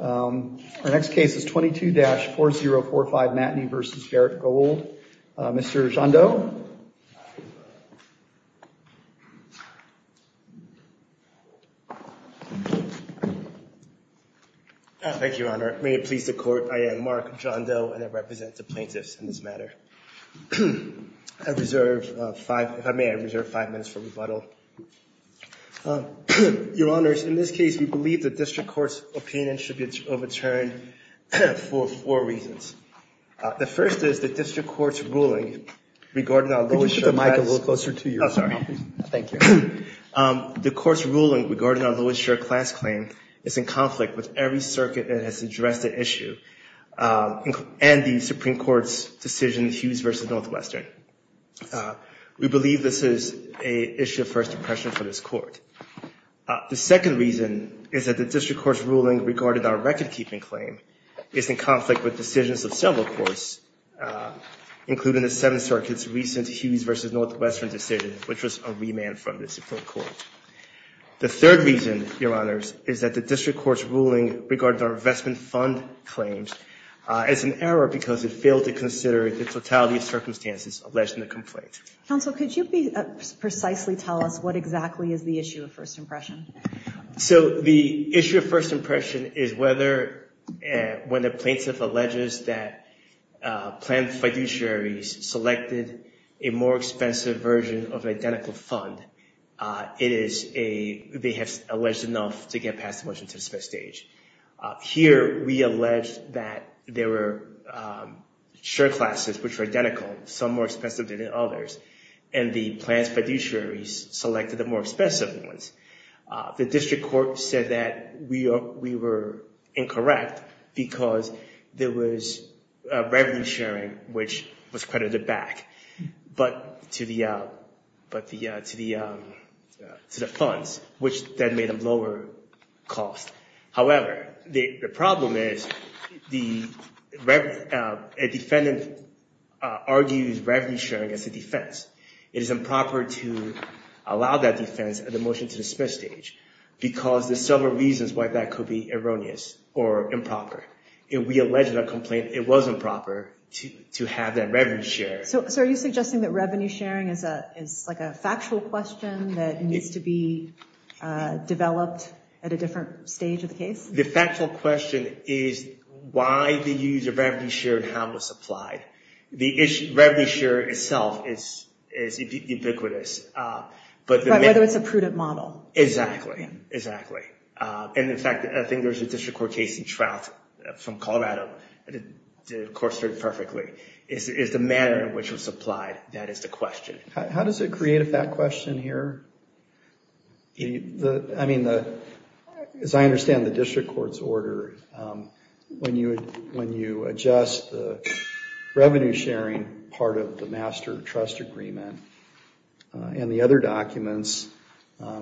Our next case is 22-4045 Matney v. Barrick Gold. Mr. John Doe. Thank you, Your Honor. May it please the Court, I am Mark John Doe and I represent the plaintiffs in this matter. I reserve five, if I may, I reserve five minutes for rebuttal. Your Honors, in this case, we believe the district court's opinion should be overturned for four reasons. The first is the district court's ruling regarding our lowest- Could you put the mic a little closer to you? Oh, sorry. Thank you. The court's ruling regarding our lowest-share class claim is in conflict with every circuit that has addressed the issue and the Supreme Court's decision, Hughes v. Northwestern. We believe this is an issue of first impression for this Court. The second reason is that the district court's ruling regarding our record-keeping claim is in conflict with decisions of several courts, including the Seventh Circuit's recent Hughes v. Northwestern decision, which was a remand from the Supreme Court. The third reason, Your Honors, is that the district court's ruling regarding our investment fund claims is in error because it failed to consider the totality of circumstances alleged in the complaint. Counsel, could you precisely tell us what exactly is the issue of first impression? So, the issue of first impression is whether, when the plaintiff alleges that planned fiduciaries selected a more expensive version of an identical fund, it is a- they have alleged enough to get past the motion to submit stage. Here, we allege that there were share classes which were identical, some more expensive than others, and the planned fiduciaries selected the more expensive ones. The district court said that we were incorrect because there was revenue sharing, which was credited back, but to the funds, which then made them lower cost. However, the problem is the- a defendant argues revenue sharing as a defense. It is improper to allow that defense at the motion to submit stage because there's several reasons why that could be erroneous or improper. If we alleged a complaint, it was improper to have that revenue share. So, are you suggesting that revenue sharing is a- is like a factual question that needs to be developed at a different stage of the case? The factual question is why did you use a revenue share and how it was applied? The issue- revenue share itself is ubiquitous, but- Right, whether it's a prudent model. Exactly, exactly. And, in fact, I think there's a district court case in Trout, from Colorado, and it corresponds perfectly. It's the manner in which it was applied that is the question. How does it create a fact question here? I mean, as I understand the district court's order, when you adjust the revenue sharing part of the master trust agreement and the other documents,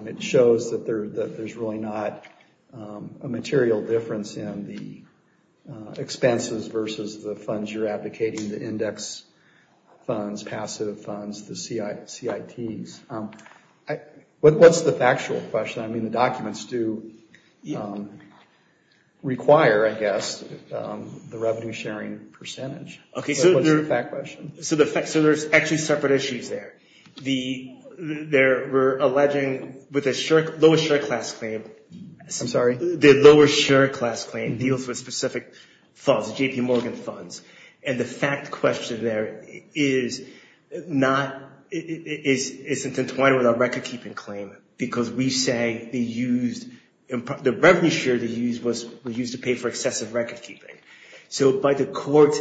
it shows that there's really not a material difference in the expenses versus the funds you're advocating, the index funds, passive funds, the CITs. What's the factual question? I mean, the documents do require, I guess, the revenue sharing percentage. Okay, so- What's the fact question? So, there's actually separate issues there. There were alleging with a lower share class claim- I'm sorry? The lower share class claim deals with specific funds, JP Morgan funds, and the fact question there is not- isn't entwined with our record-keeping claim, because we say they used- the revenue share they used was used to pay for excessive record-keeping. So, by the court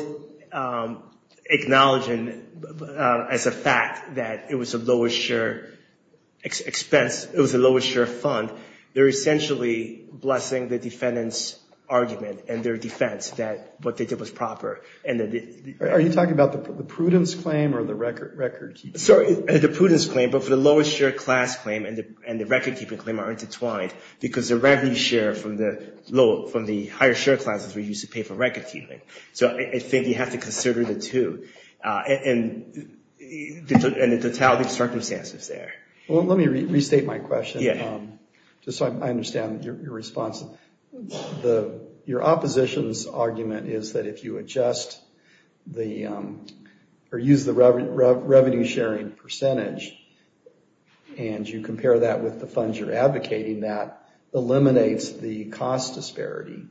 acknowledging as a fact that it was a lower share expense, it was a lower share fund, they're essentially blessing the defendant's argument and their defense that what they did was proper. Are you talking about the prudence claim or the record-keeping? Sorry, the prudence claim, but for the lower share class claim and the record-keeping claim are intertwined, because the revenue share from the higher share classes were used to pay for record-keeping. So, I think you have to consider the two and the totality of circumstances there. Well, let me restate my question, just so I understand your response. Your opposition's argument is that if you adjust the- or use the revenue sharing percentage, and you compare that with the funds you're advocating, that eliminates the cost disparity.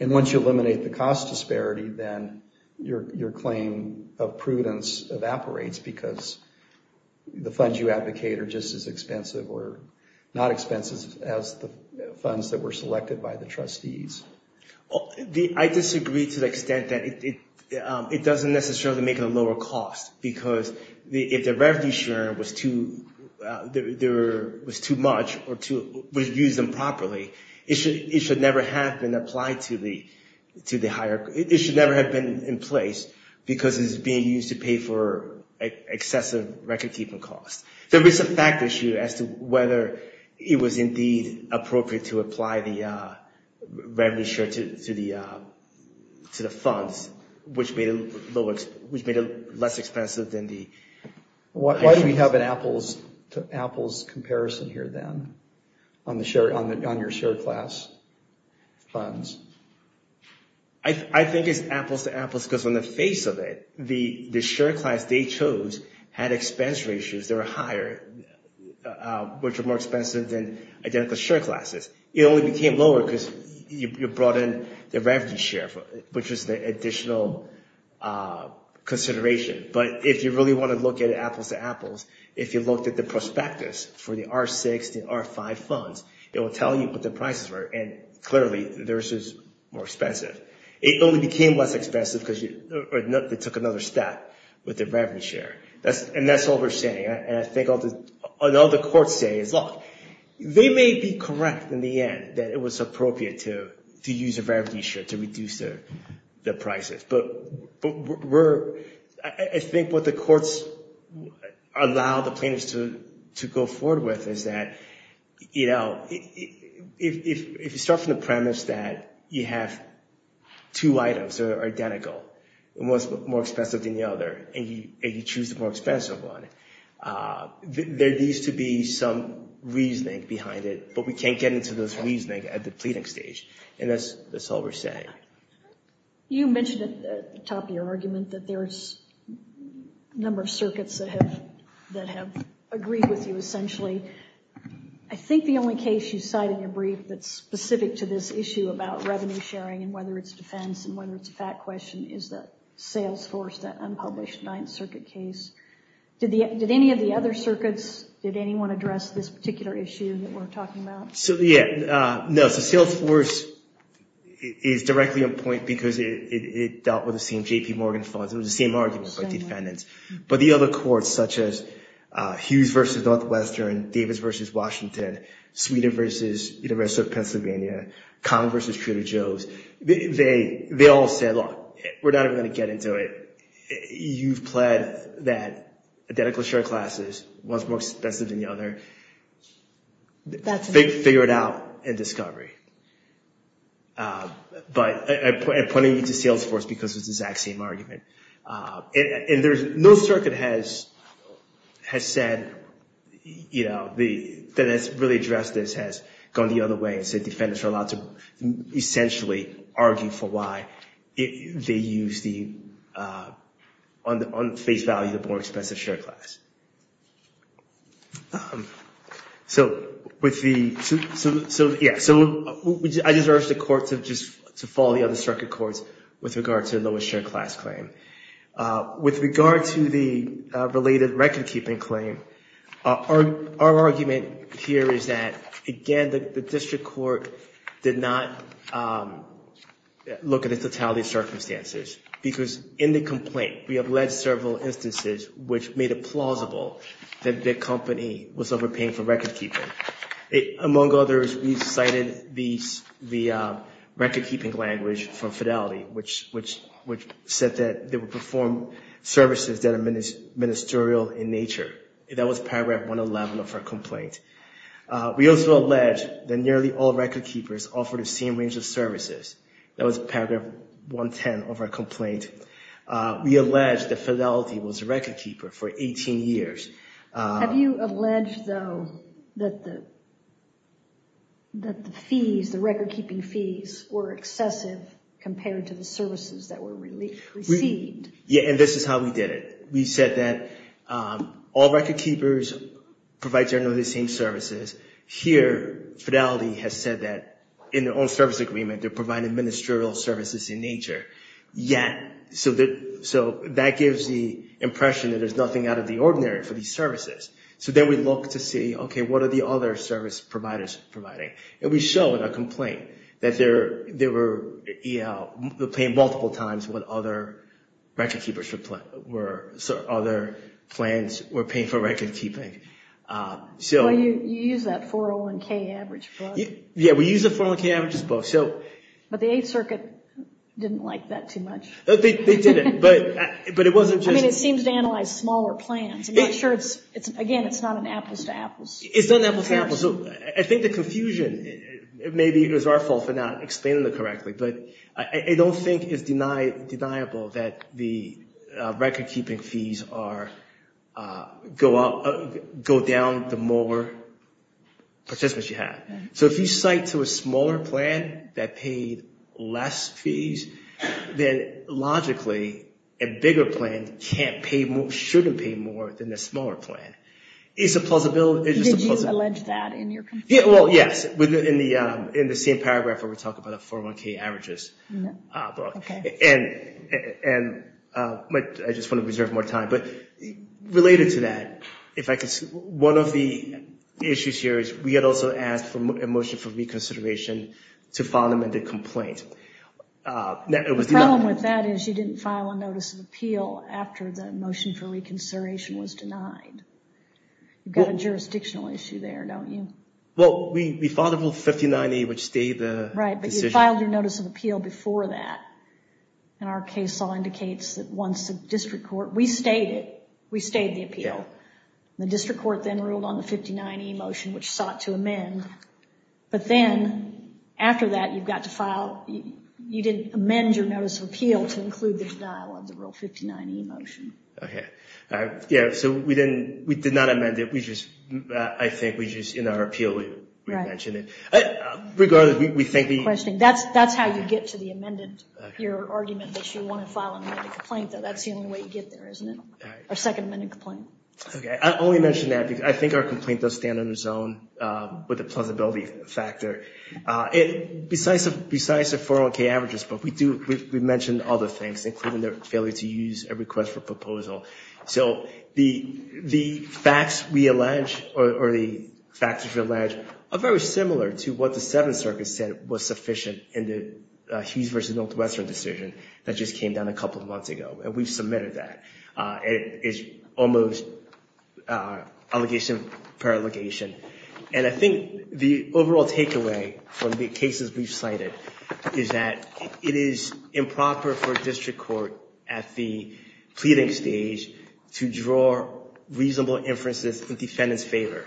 And once you eliminate the cost disparity, then your claim of prudence evaporates, because the funds you advocate are just as expensive or not expensive as the funds that were selected by the trustees. I disagree to the extent that it doesn't necessarily make it a lower cost, because if the revenue sharing was too much or was used improperly, it should never have been applied to the higher- it should never have been in place, because it's being used to pay for excessive record-keeping costs. There is a fact issue as to whether it was indeed appropriate to apply the revenue share to the funds, which made it less expensive than the- Why do we have an apples-to-apples comparison here, then, on your share class funds? I think it's apples-to-apples, because on the face of it, the share class they chose had expense ratios that were higher, which were more expensive than identical share classes. It only became lower because you brought in the revenue share, which was the additional consideration. But if you really want to look at apples-to-apples, if you looked at the prospectus for the R6 and R5 funds, it will tell you what the prices were, and clearly, theirs is more expensive. It only became less expensive because they took another step with the revenue share. And that's all we're saying. And I think what all the courts say is, look, they may be correct in the end, that it was appropriate to use a revenue share to reduce the prices. But I think what the courts allow the plaintiffs to go forward with is that, you know, if you start from the premise that you have two items that are identical, and one's more expensive than the other, and you choose the more expensive one, there needs to be some reasoning behind it. But we can't get into this reasoning at the pleading stage. And that's all we're saying. You mentioned at the top of your argument that there's a number of circuits that have agreed with you, essentially. I think the only case you cite in your brief that's specific to this issue about revenue sharing and whether it's defense and whether it's a fact question is that Salesforce, that unpublished Ninth Circuit case. Did any of the other circuits, did anyone address this particular issue that we're talking about? Yeah. No, so Salesforce is directly on point because it dealt with the same J.P. Morgan funds. It was the same argument by defendants. But the other courts, such as Hughes v. Northwestern, Davis v. Washington, Sweden v. University of Pennsylvania, Conn v. Trudeau-Jones, they all said, look, we're not even going to get into it. You've pled that identical share classes, one's more expensive than the other. They figure it out in discovery. But I'm pointing you to Salesforce because it's the exact same argument. And no circuit has said, you know, that has really addressed this, has gone the other way and said defendants are allowed to essentially argue for why they use the, on face value, the more expensive share class. So, yeah, I just urge the courts to follow the other circuit courts with regard to the lowest share class claim. With regard to the related recordkeeping claim, our argument here is that, again, the district court did not look at the totality of circumstances because in the complaint, we have led several instances which made it plausible that the company was overpaying for recordkeeping. Among others, we cited the recordkeeping language from Fidelity, which said that there was no way they would perform services that are ministerial in nature. That was paragraph 111 of our complaint. We also allege that nearly all recordkeepers offered the same range of services. That was paragraph 110 of our complaint. We allege that Fidelity was a recordkeeper for 18 years. Have you alleged, though, that the fees, the recordkeeping fees, were excessive compared to the services that were received? Yeah, and this is how we did it. We said that all recordkeepers provide generally the same services. Here, Fidelity has said that in their own service agreement, they're providing ministerial services in nature. So that gives the impression that there's nothing out of the ordinary for these services. So then we look to see, okay, what are the other service providers providing? And we show in our complaint that they were paying multiple times what other plans were paying for recordkeeping. Well, you used that 401k average book. Yeah, we used the 401k averages book. But the Eighth Circuit didn't like that too much. I mean, it seems to analyze smaller plans. Again, it's not an apples-to-apples comparison. It's not an apples-to-apples. I think the confusion, maybe it was our fault for not explaining it correctly, but I don't think it's deniable that the recordkeeping fees go down the more participants you have. So if you cite to a smaller plan that paid less fees, then logically a bigger plan shouldn't pay more than the smaller plan. Did you allege that in your complaint? Well, yes, in the same paragraph where we talk about the 401k averages book. I just want to reserve more time. Related to that, one of the issues here is we had also asked for a motion for reconsideration to file an amended complaint. The problem with that is you didn't file a notice of appeal after the motion for reconsideration was denied. You've got a jurisdictional issue there, don't you? Right, but you filed your notice of appeal before that, and our case law indicates that once the district court... You didn't amend your notice of appeal to include the denial of the Rule 59e motion. Okay, yeah, so we did not amend it. I think in our appeal we mentioned it. That's how you get to your argument that you want to file an amended complaint, though that's the only way you get there, isn't it? Our second amended complaint. I only mention that because I think our complaint does stand on its own with the plausibility factor. Besides the 401k averages book, we mentioned other things, including their failure to use a request for proposal. The facts we allege are very similar to what the Seventh Circuit said was sufficient in the Hughes v. Northwestern decision that just came down a couple of months ago, and we've submitted that. It's almost allegation per allegation, and I think the overall takeaway from the cases we've cited is that it is improper for a district court at the pleading stage to draw reasonable inferences in defendant's favor,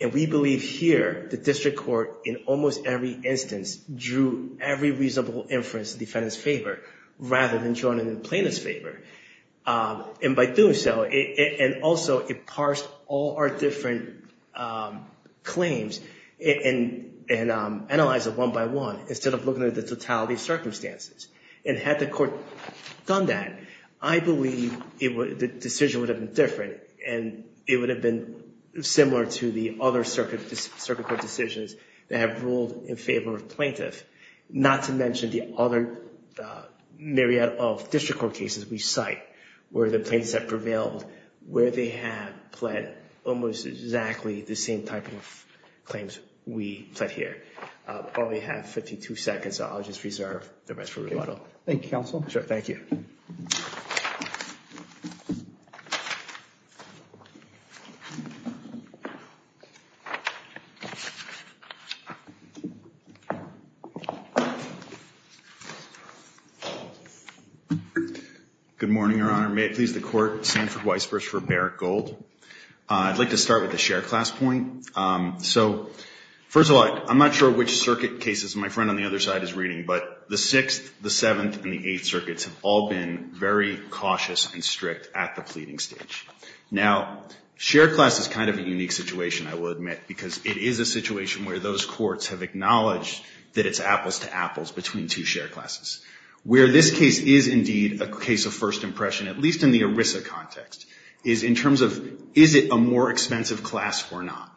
and we believe here the district court in almost every instance drew every reasonable inference in defendant's favor rather than drawing it in plaintiff's favor. And by doing so, and also it parsed all our different claims and analyzed it one by one instead of looking at the totality of circumstances. And had the court done that, I believe the decision would have been different and it would have been similar to the other circuit court decisions that have ruled in favor of plaintiff. Not to mention the other myriad of district court cases we cite where the plaintiffs have prevailed, where they have pled almost exactly the same type of claims we pled here. I only have 52 seconds, so I'll just reserve the rest for rebuttal. Thank you, counsel. Good morning, Your Honor. May it please the court, Sanford Weisbruch for Barrett Gold. I'd like to start with the share class point. So, first of all, I'm not sure which circuit cases my friend on the other side is reading, but the 6th, the 7th, and the 8th circuits have all been very cautious and strict at the pleading stage. Now, share class is kind of a unique situation, I will admit, because it is a situation where those courts have acknowledged that it's apples to apples between two share classes. Where this case is indeed a case of first impression, at least in the ERISA context, is in terms of is it a more expensive class or not.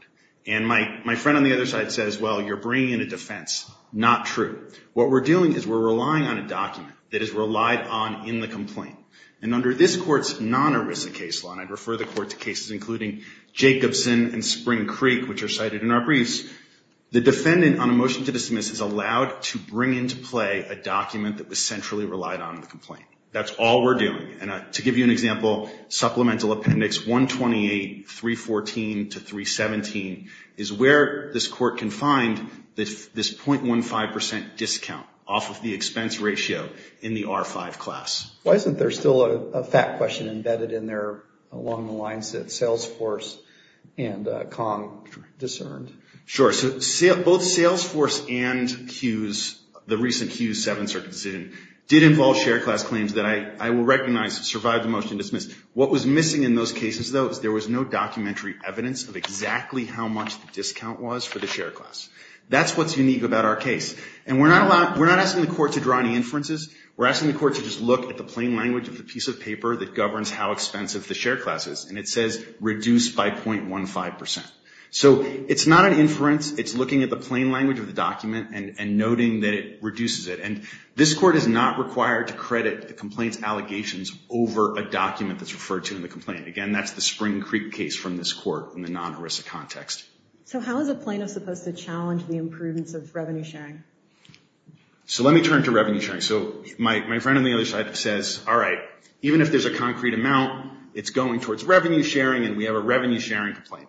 And my friend on the other side says, well, you're bringing in a defense. Not true. What we're doing is we're relying on a document that is relied on in the complaint. And under this Court's non-ERISA case law, and I'd refer the Court to cases including Jacobson and Spring Creek, which are cited in our briefs, the defendant on a motion to dismiss is allowed to bring into play a document that was centrally relied on in the complaint. That's all we're doing. And to give you an example, Supplemental Appendix 128, 314 to 317, is where this Court can find this .15% discount off of the expense ratio in the R5 class. Why isn't there still a fact question embedded in there along the lines that Salesforce and Kong discerned? Sure. So both Salesforce and Hughes, the recent Hughes 7 cert decision, did involve share class claims that I will recognize survived the motion to dismiss. What was missing in those cases, though, is there was no documentary evidence of exactly how much the discount was for the share class. That's what's unique about our case. And we're not asking the Court to draw any inferences. We're asking the Court to just look at the plain language of the piece of paper that governs how expensive the share class is. And it says reduce by .15%. So it's not an inference. It's looking at the plain language of the document and noting that it reduces it. And this Court is not required to credit the complaint's allegations over a document that's referred to in the complaint. Again, that's the Spring Creek case from this Court in the non-ERISA context. So how is a plaintiff supposed to challenge the improvements of revenue sharing? So let me turn to revenue sharing. So my friend on the other side says, all right, even if there's a concrete amount, it's going towards revenue sharing, and we have a revenue sharing complaint.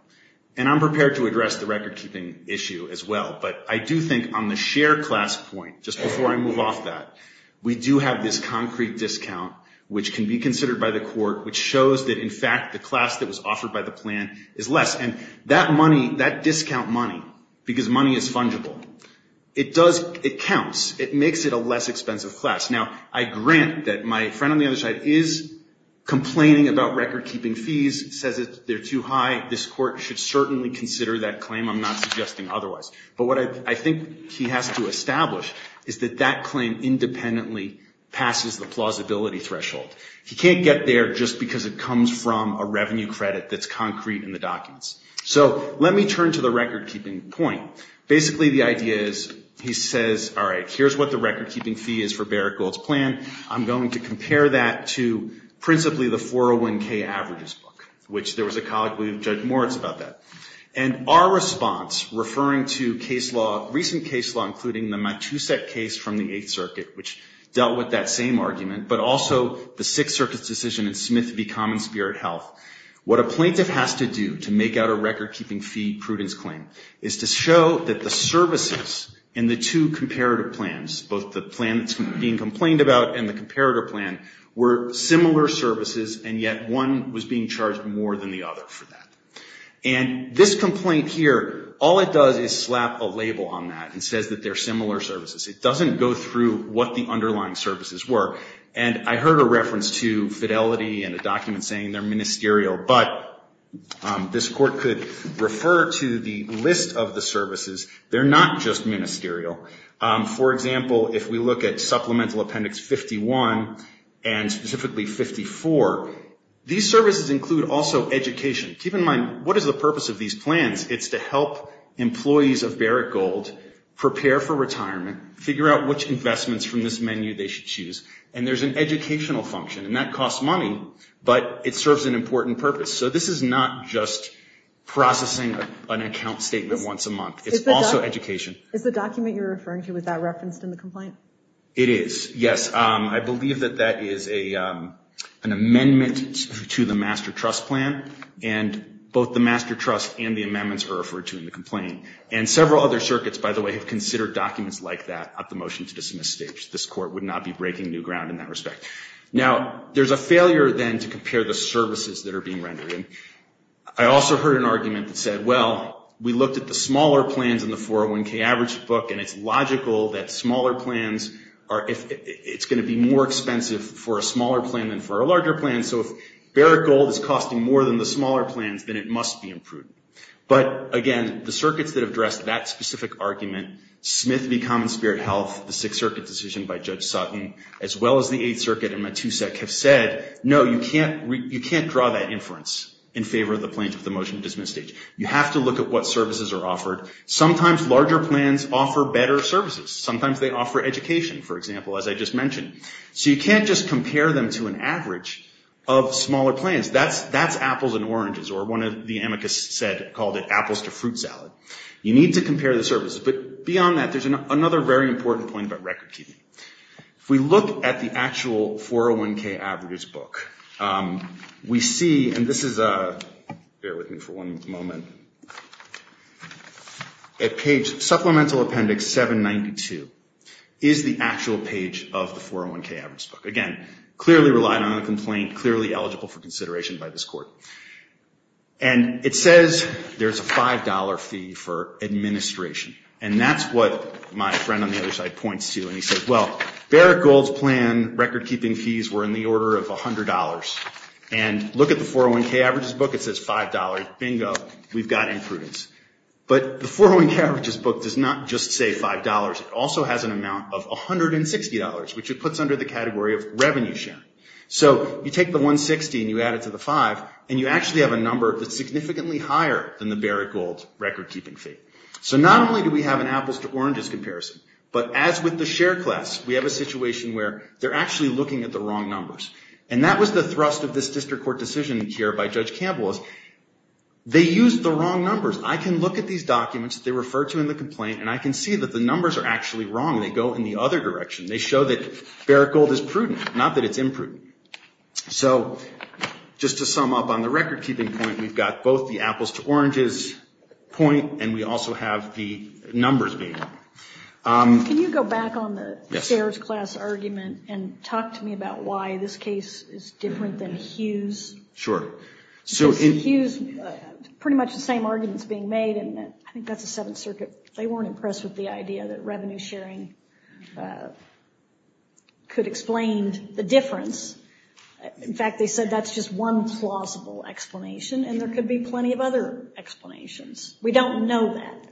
And I'm prepared to address the recordkeeping issue as well. But I do think on the share class point, just before I move off that, we do have this concrete discount, which can be considered by the Court, which shows that, in fact, the class that was offered by the plan is less. And that money, that discount money, because money is fungible, it counts. It makes it a less expensive class. Now, I grant that my friend on the other side is complaining about recordkeeping fees, says they're too high. This Court should certainly consider that claim. I'm not suggesting otherwise. But what I think he has to establish is that that claim independently passes the plausibility threshold. He can't get there just because it comes from a revenue credit that's concrete in the documents. So let me turn to the recordkeeping point. Basically, the idea is he says, all right, here's what the recordkeeping fee is for Barrickgold's plan. I'm going to compare that to principally the 401k averages book, which there was a colleague, Judge Moritz, about that. And our response, referring to case law, recent case law, including the Matusak case from the Eighth Circuit, which dealt with that same argument, but also the Sixth Circuit's decision in Smith v. Common Spirit Health, what a plaintiff has to do to make out a recordkeeping fee prudence claim is to show that the services in the two comparative plans, both the plan that's being complained about and the comparator plan, were similar services, and yet one was being charged more than the other for that. And this complaint here, all it does is slap a label on that and says that they're similar services. It doesn't go through what the underlying services were. And I heard a reference to fidelity in a document saying they're ministerial, but this Court could refer to the list of the services. They're not just ministerial. For example, if we look at Supplemental Appendix 51 and specifically 54, these services include also education. Keep in mind, what is the purpose of these plans? It's to help employees of Barrett Gold prepare for retirement, figure out which investments from this menu they should choose. And there's an educational function, and that costs money, but it serves an important purpose. So this is not just processing an account statement once a month. It's also education. Is the document you're referring to, is that referenced in the complaint? It is, yes. I believe that that is an amendment to the Master Trust Plan, and both the Master Trust and the amendments are referred to in the complaint. And several other circuits, by the way, have considered documents like that at the motion-to-dismiss stage. This Court would not be breaking new ground in that respect. Now, there's a failure, then, to compare the services that are being rendered. I also heard an argument that said, well, we looked at the smaller plans in the 401K Average book, and it's logical that smaller plans are going to be more expensive for a smaller plan than for a larger plan. So if Barrett Gold is costing more than the smaller plans, then it must be imprudent. But, again, the circuits that have addressed that specific argument, Smith v. Common Spirit Health, the Sixth Circuit decision by Judge Sutton, as well as the Eighth Circuit and Matusek, have said, no, you can't draw that inference in favor of the plans at the motion-to-dismiss stage. You have to look at what services are offered. Sometimes larger plans offer better services. Sometimes they offer education, for example, as I just mentioned. So you can't just compare them to an average of smaller plans. That's apples and oranges, or one of the amicus called it apples to fruit salad. You need to compare the services, but beyond that, there's another very important point about record keeping. If we look at the actual 401K Average book, we see, and this is a, bear with me for one moment, a page, Supplemental Appendix 792 is the actual page of the 401K Average book. Again, clearly relied on a complaint, clearly eligible for consideration by this court. And it says there's a $5 fee for administration, and that's what my friend on the other side points to. And he says, well, Barrett Gold's plan record keeping fees were in the order of $100. And look at the 401K Average's book. It says $5. Bingo. We've got imprudence. But the 401K Average's book does not just say $5. It also has an amount of $160, which it puts under the category of revenue sharing. So you take the $160 and you add it to the $5, and you actually have a number that's significantly higher than the Barrett Gold record keeping fee. So not only do we have an apples to oranges comparison, but as with the share class, we have a situation where they're actually looking at the wrong numbers. And that was the thrust of this district court decision here by Judge Campbell. They used the wrong numbers. I can look at these documents that they refer to in the complaint, and I can see that the numbers are actually wrong. They go in the other direction. They show that Barrett Gold is prudent, not that it's imprudent. So just to sum up on the record keeping point, we've got both the apples to oranges point, and we also have the numbers being wrong. Can you go back on the shares class argument and talk to me about why this case is different than Hughes? Sure. Hughes, pretty much the same arguments being made, and I think that's the Seventh Circuit. They weren't impressed with the idea that revenue sharing could explain the difference. In fact, they said that's just one plausible explanation, and there could be plenty of other explanations. We don't know that,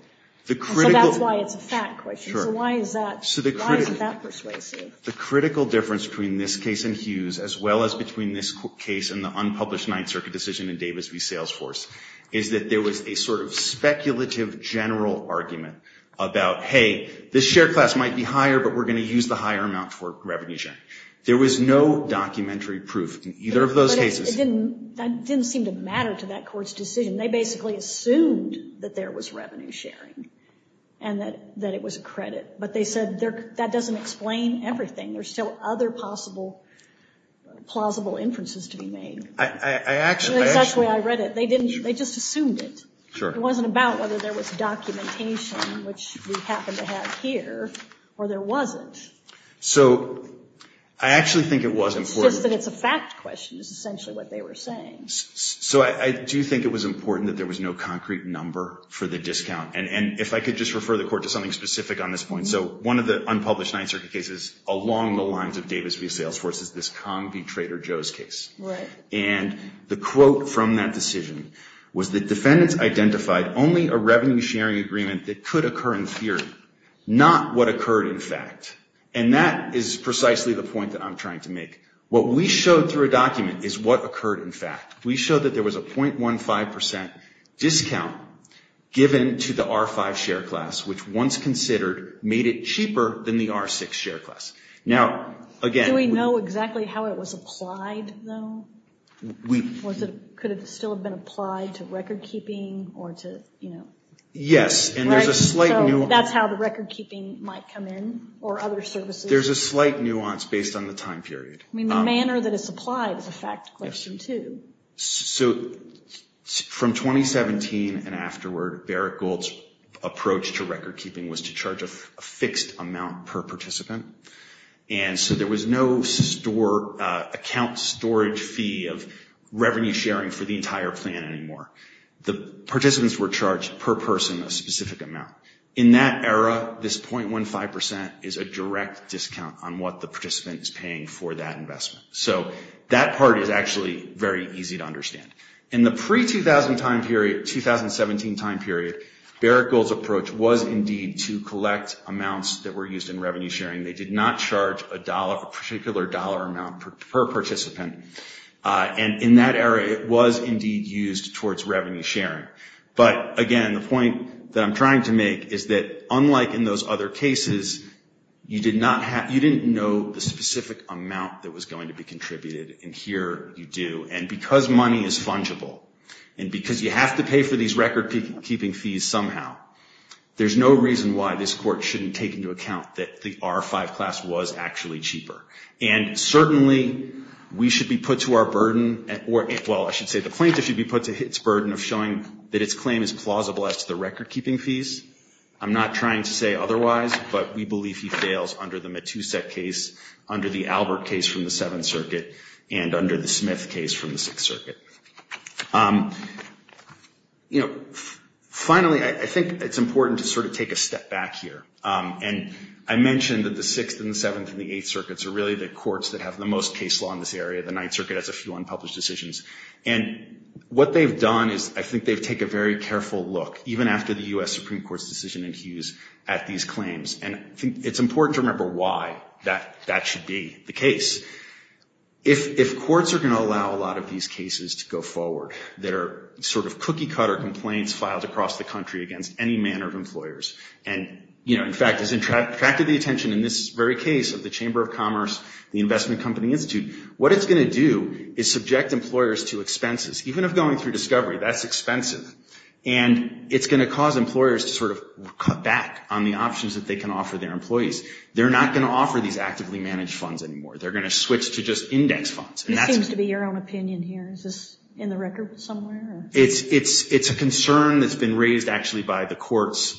and so that's why it's a fact question. So why is that persuasive? The critical difference between this case and Hughes as well as between this case and the unpublished Ninth Circuit decision in Davis v. Salesforce is that there was a sort of speculative general argument about, hey, this share class might be higher, but we're going to use the higher amount for revenue sharing. There was no documentary proof in either of those cases. But that didn't seem to matter to that court's decision. They basically assumed that there was revenue sharing and that it was a credit. But they said that doesn't explain everything. There's still other possible plausible inferences to be made. That's the way I read it. They just assumed it. It wasn't about whether there was documentation, which we happen to have here, or there wasn't. It's just that it's a fact question is essentially what they were saying. So I do think it was important that there was no concrete number for the discount. And if I could just refer the court to something specific on this point. So one of the unpublished Ninth Circuit cases along the lines of Davis v. Salesforce is this Cong v. Trader Joe's case. And the quote from that decision was that defendants identified only a revenue sharing agreement that could occur in theory, not what occurred in fact. And that is precisely the point that I'm trying to make. What we showed through a document is what occurred in fact. We showed that there was a .15% discount given to the R5 share class, which once considered made it cheaper than the R6 share class. Do we know exactly how it was applied though? Could it still have been applied to record keeping? Yes, and there's a slight nuance. So that's how the record keeping might come in or other services? There's a slight nuance based on the time period. I mean the manner that it's applied is a fact question too. So from 2017 and afterward, Barrett Gold's approach to record keeping was to charge a fixed amount per participant. And so there was no account storage fee of revenue sharing for the entire plan anymore. The participants were charged per person a specific amount. In that era, this .15% is a direct discount on what the participant is paying for that investment. So that part is actually very easy to understand. In the pre-2017 time period, Barrett Gold's approach was indeed to collect amounts that were used in revenue sharing. They did not charge a particular dollar amount per participant. And in that era, it was indeed used towards revenue sharing. But again, the point that I'm trying to make is that unlike in those other cases, you didn't know the specific amount that was going to be contributed, and here you do. And because money is fungible, and because you have to pay for these record keeping fees somehow, there's no reason why this Court shouldn't take into account that the R-5 class was actually cheaper. And certainly, we should be put to our burden, well, I should say the plaintiff should be put to its burden of showing that its claim is plausible as to the record keeping fees. I'm not trying to say otherwise, but we believe he fails under the Matusak case, under the Albert case from the Seventh Circuit, and under the Smith case from the Sixth Circuit. You know, finally, I think it's important to sort of take a step back here. And I mentioned that the Sixth and the Seventh and the Eighth Circuits are really the courts that have the most case law in this area. The Ninth Circuit has a few unpublished decisions. And what they've done is I think they've taken a very careful look, even after the U.S. Supreme Court's decision in Hughes at these claims. And I think it's important to remember why that should be the case. If courts are going to allow a lot of these cases to go forward that are sort of cookie-cutter complaints filed across the country against any manner of employers, and, you know, in fact, has attracted the attention in this very case of the Chamber of Commerce, the Investment Company Institute, what it's going to do is subject employers to expenses. Even if going through discovery, that's expensive. And it's going to cause employers to sort of cut back on the options that they can offer their employees. They're not going to offer these actively managed funds anymore. They're going to switch to just index funds. It seems to be your own opinion here. Is this in the record somewhere? It's a concern that's been raised actually by the courts.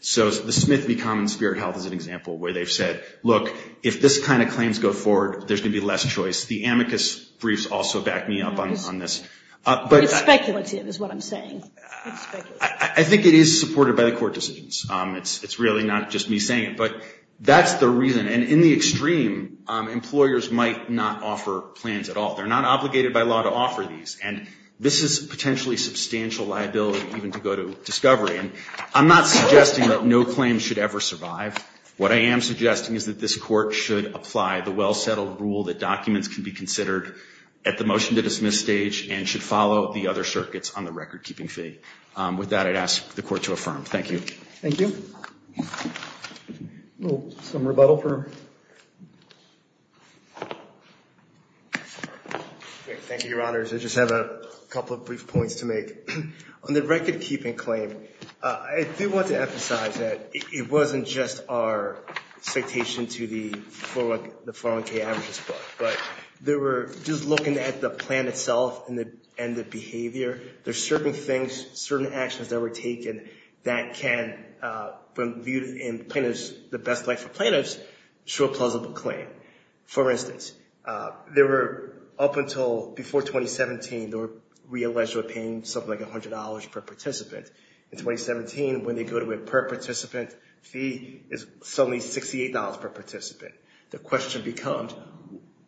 So the Smith v. Common Spirit Health is an example where they've said, look, if this kind of claims go forward, there's going to be less choice. The amicus briefs also back me up on this. It's speculative is what I'm saying. It's speculative. I think it is supported by the court decisions. It's really not just me saying it. But that's the reason. And in the extreme, employers might not offer plans at all. They're not obligated by law to offer these. And this is potentially substantial liability even to go to discovery. And I'm not suggesting that no claim should ever survive. What I am suggesting is that this court should apply the well-settled rule that documents can be considered at the motion-to-dismiss stage and should follow the other circuits on the record-keeping fee. With that, I'd ask the court to affirm. Thank you. Thank you. Some rebuttal. Thank you, Your Honors. I just have a couple of brief points to make. On the record-keeping claim, I do want to emphasize that it wasn't just our citation to the 401k averages, but they were just looking at the plan itself and the behavior. There's certain things, certain actions that were taken that can, when viewed in plaintiff's, the best light for plaintiffs, show a plausible claim. For instance, there were up until before 2017, they were realized they were paying something like $100 per participant. In 2017, when they go to a per-participant fee, it's suddenly $68 per participant. The question becomes,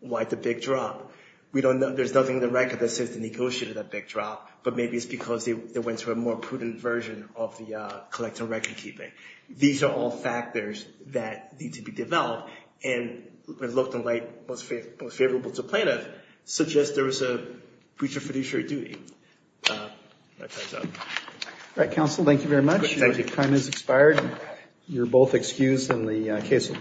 why the big drop? We don't know. There's nothing in the record that says they negotiated that big drop, but maybe it's because they went to a more prudent version of the collective record-keeping. These are all factors that need to be developed and looked at like most favorable to plaintiffs, such as there was a breach of fiduciary duty. All right, counsel, thank you very much. Your time has expired. You're both excused and the case will be submitted.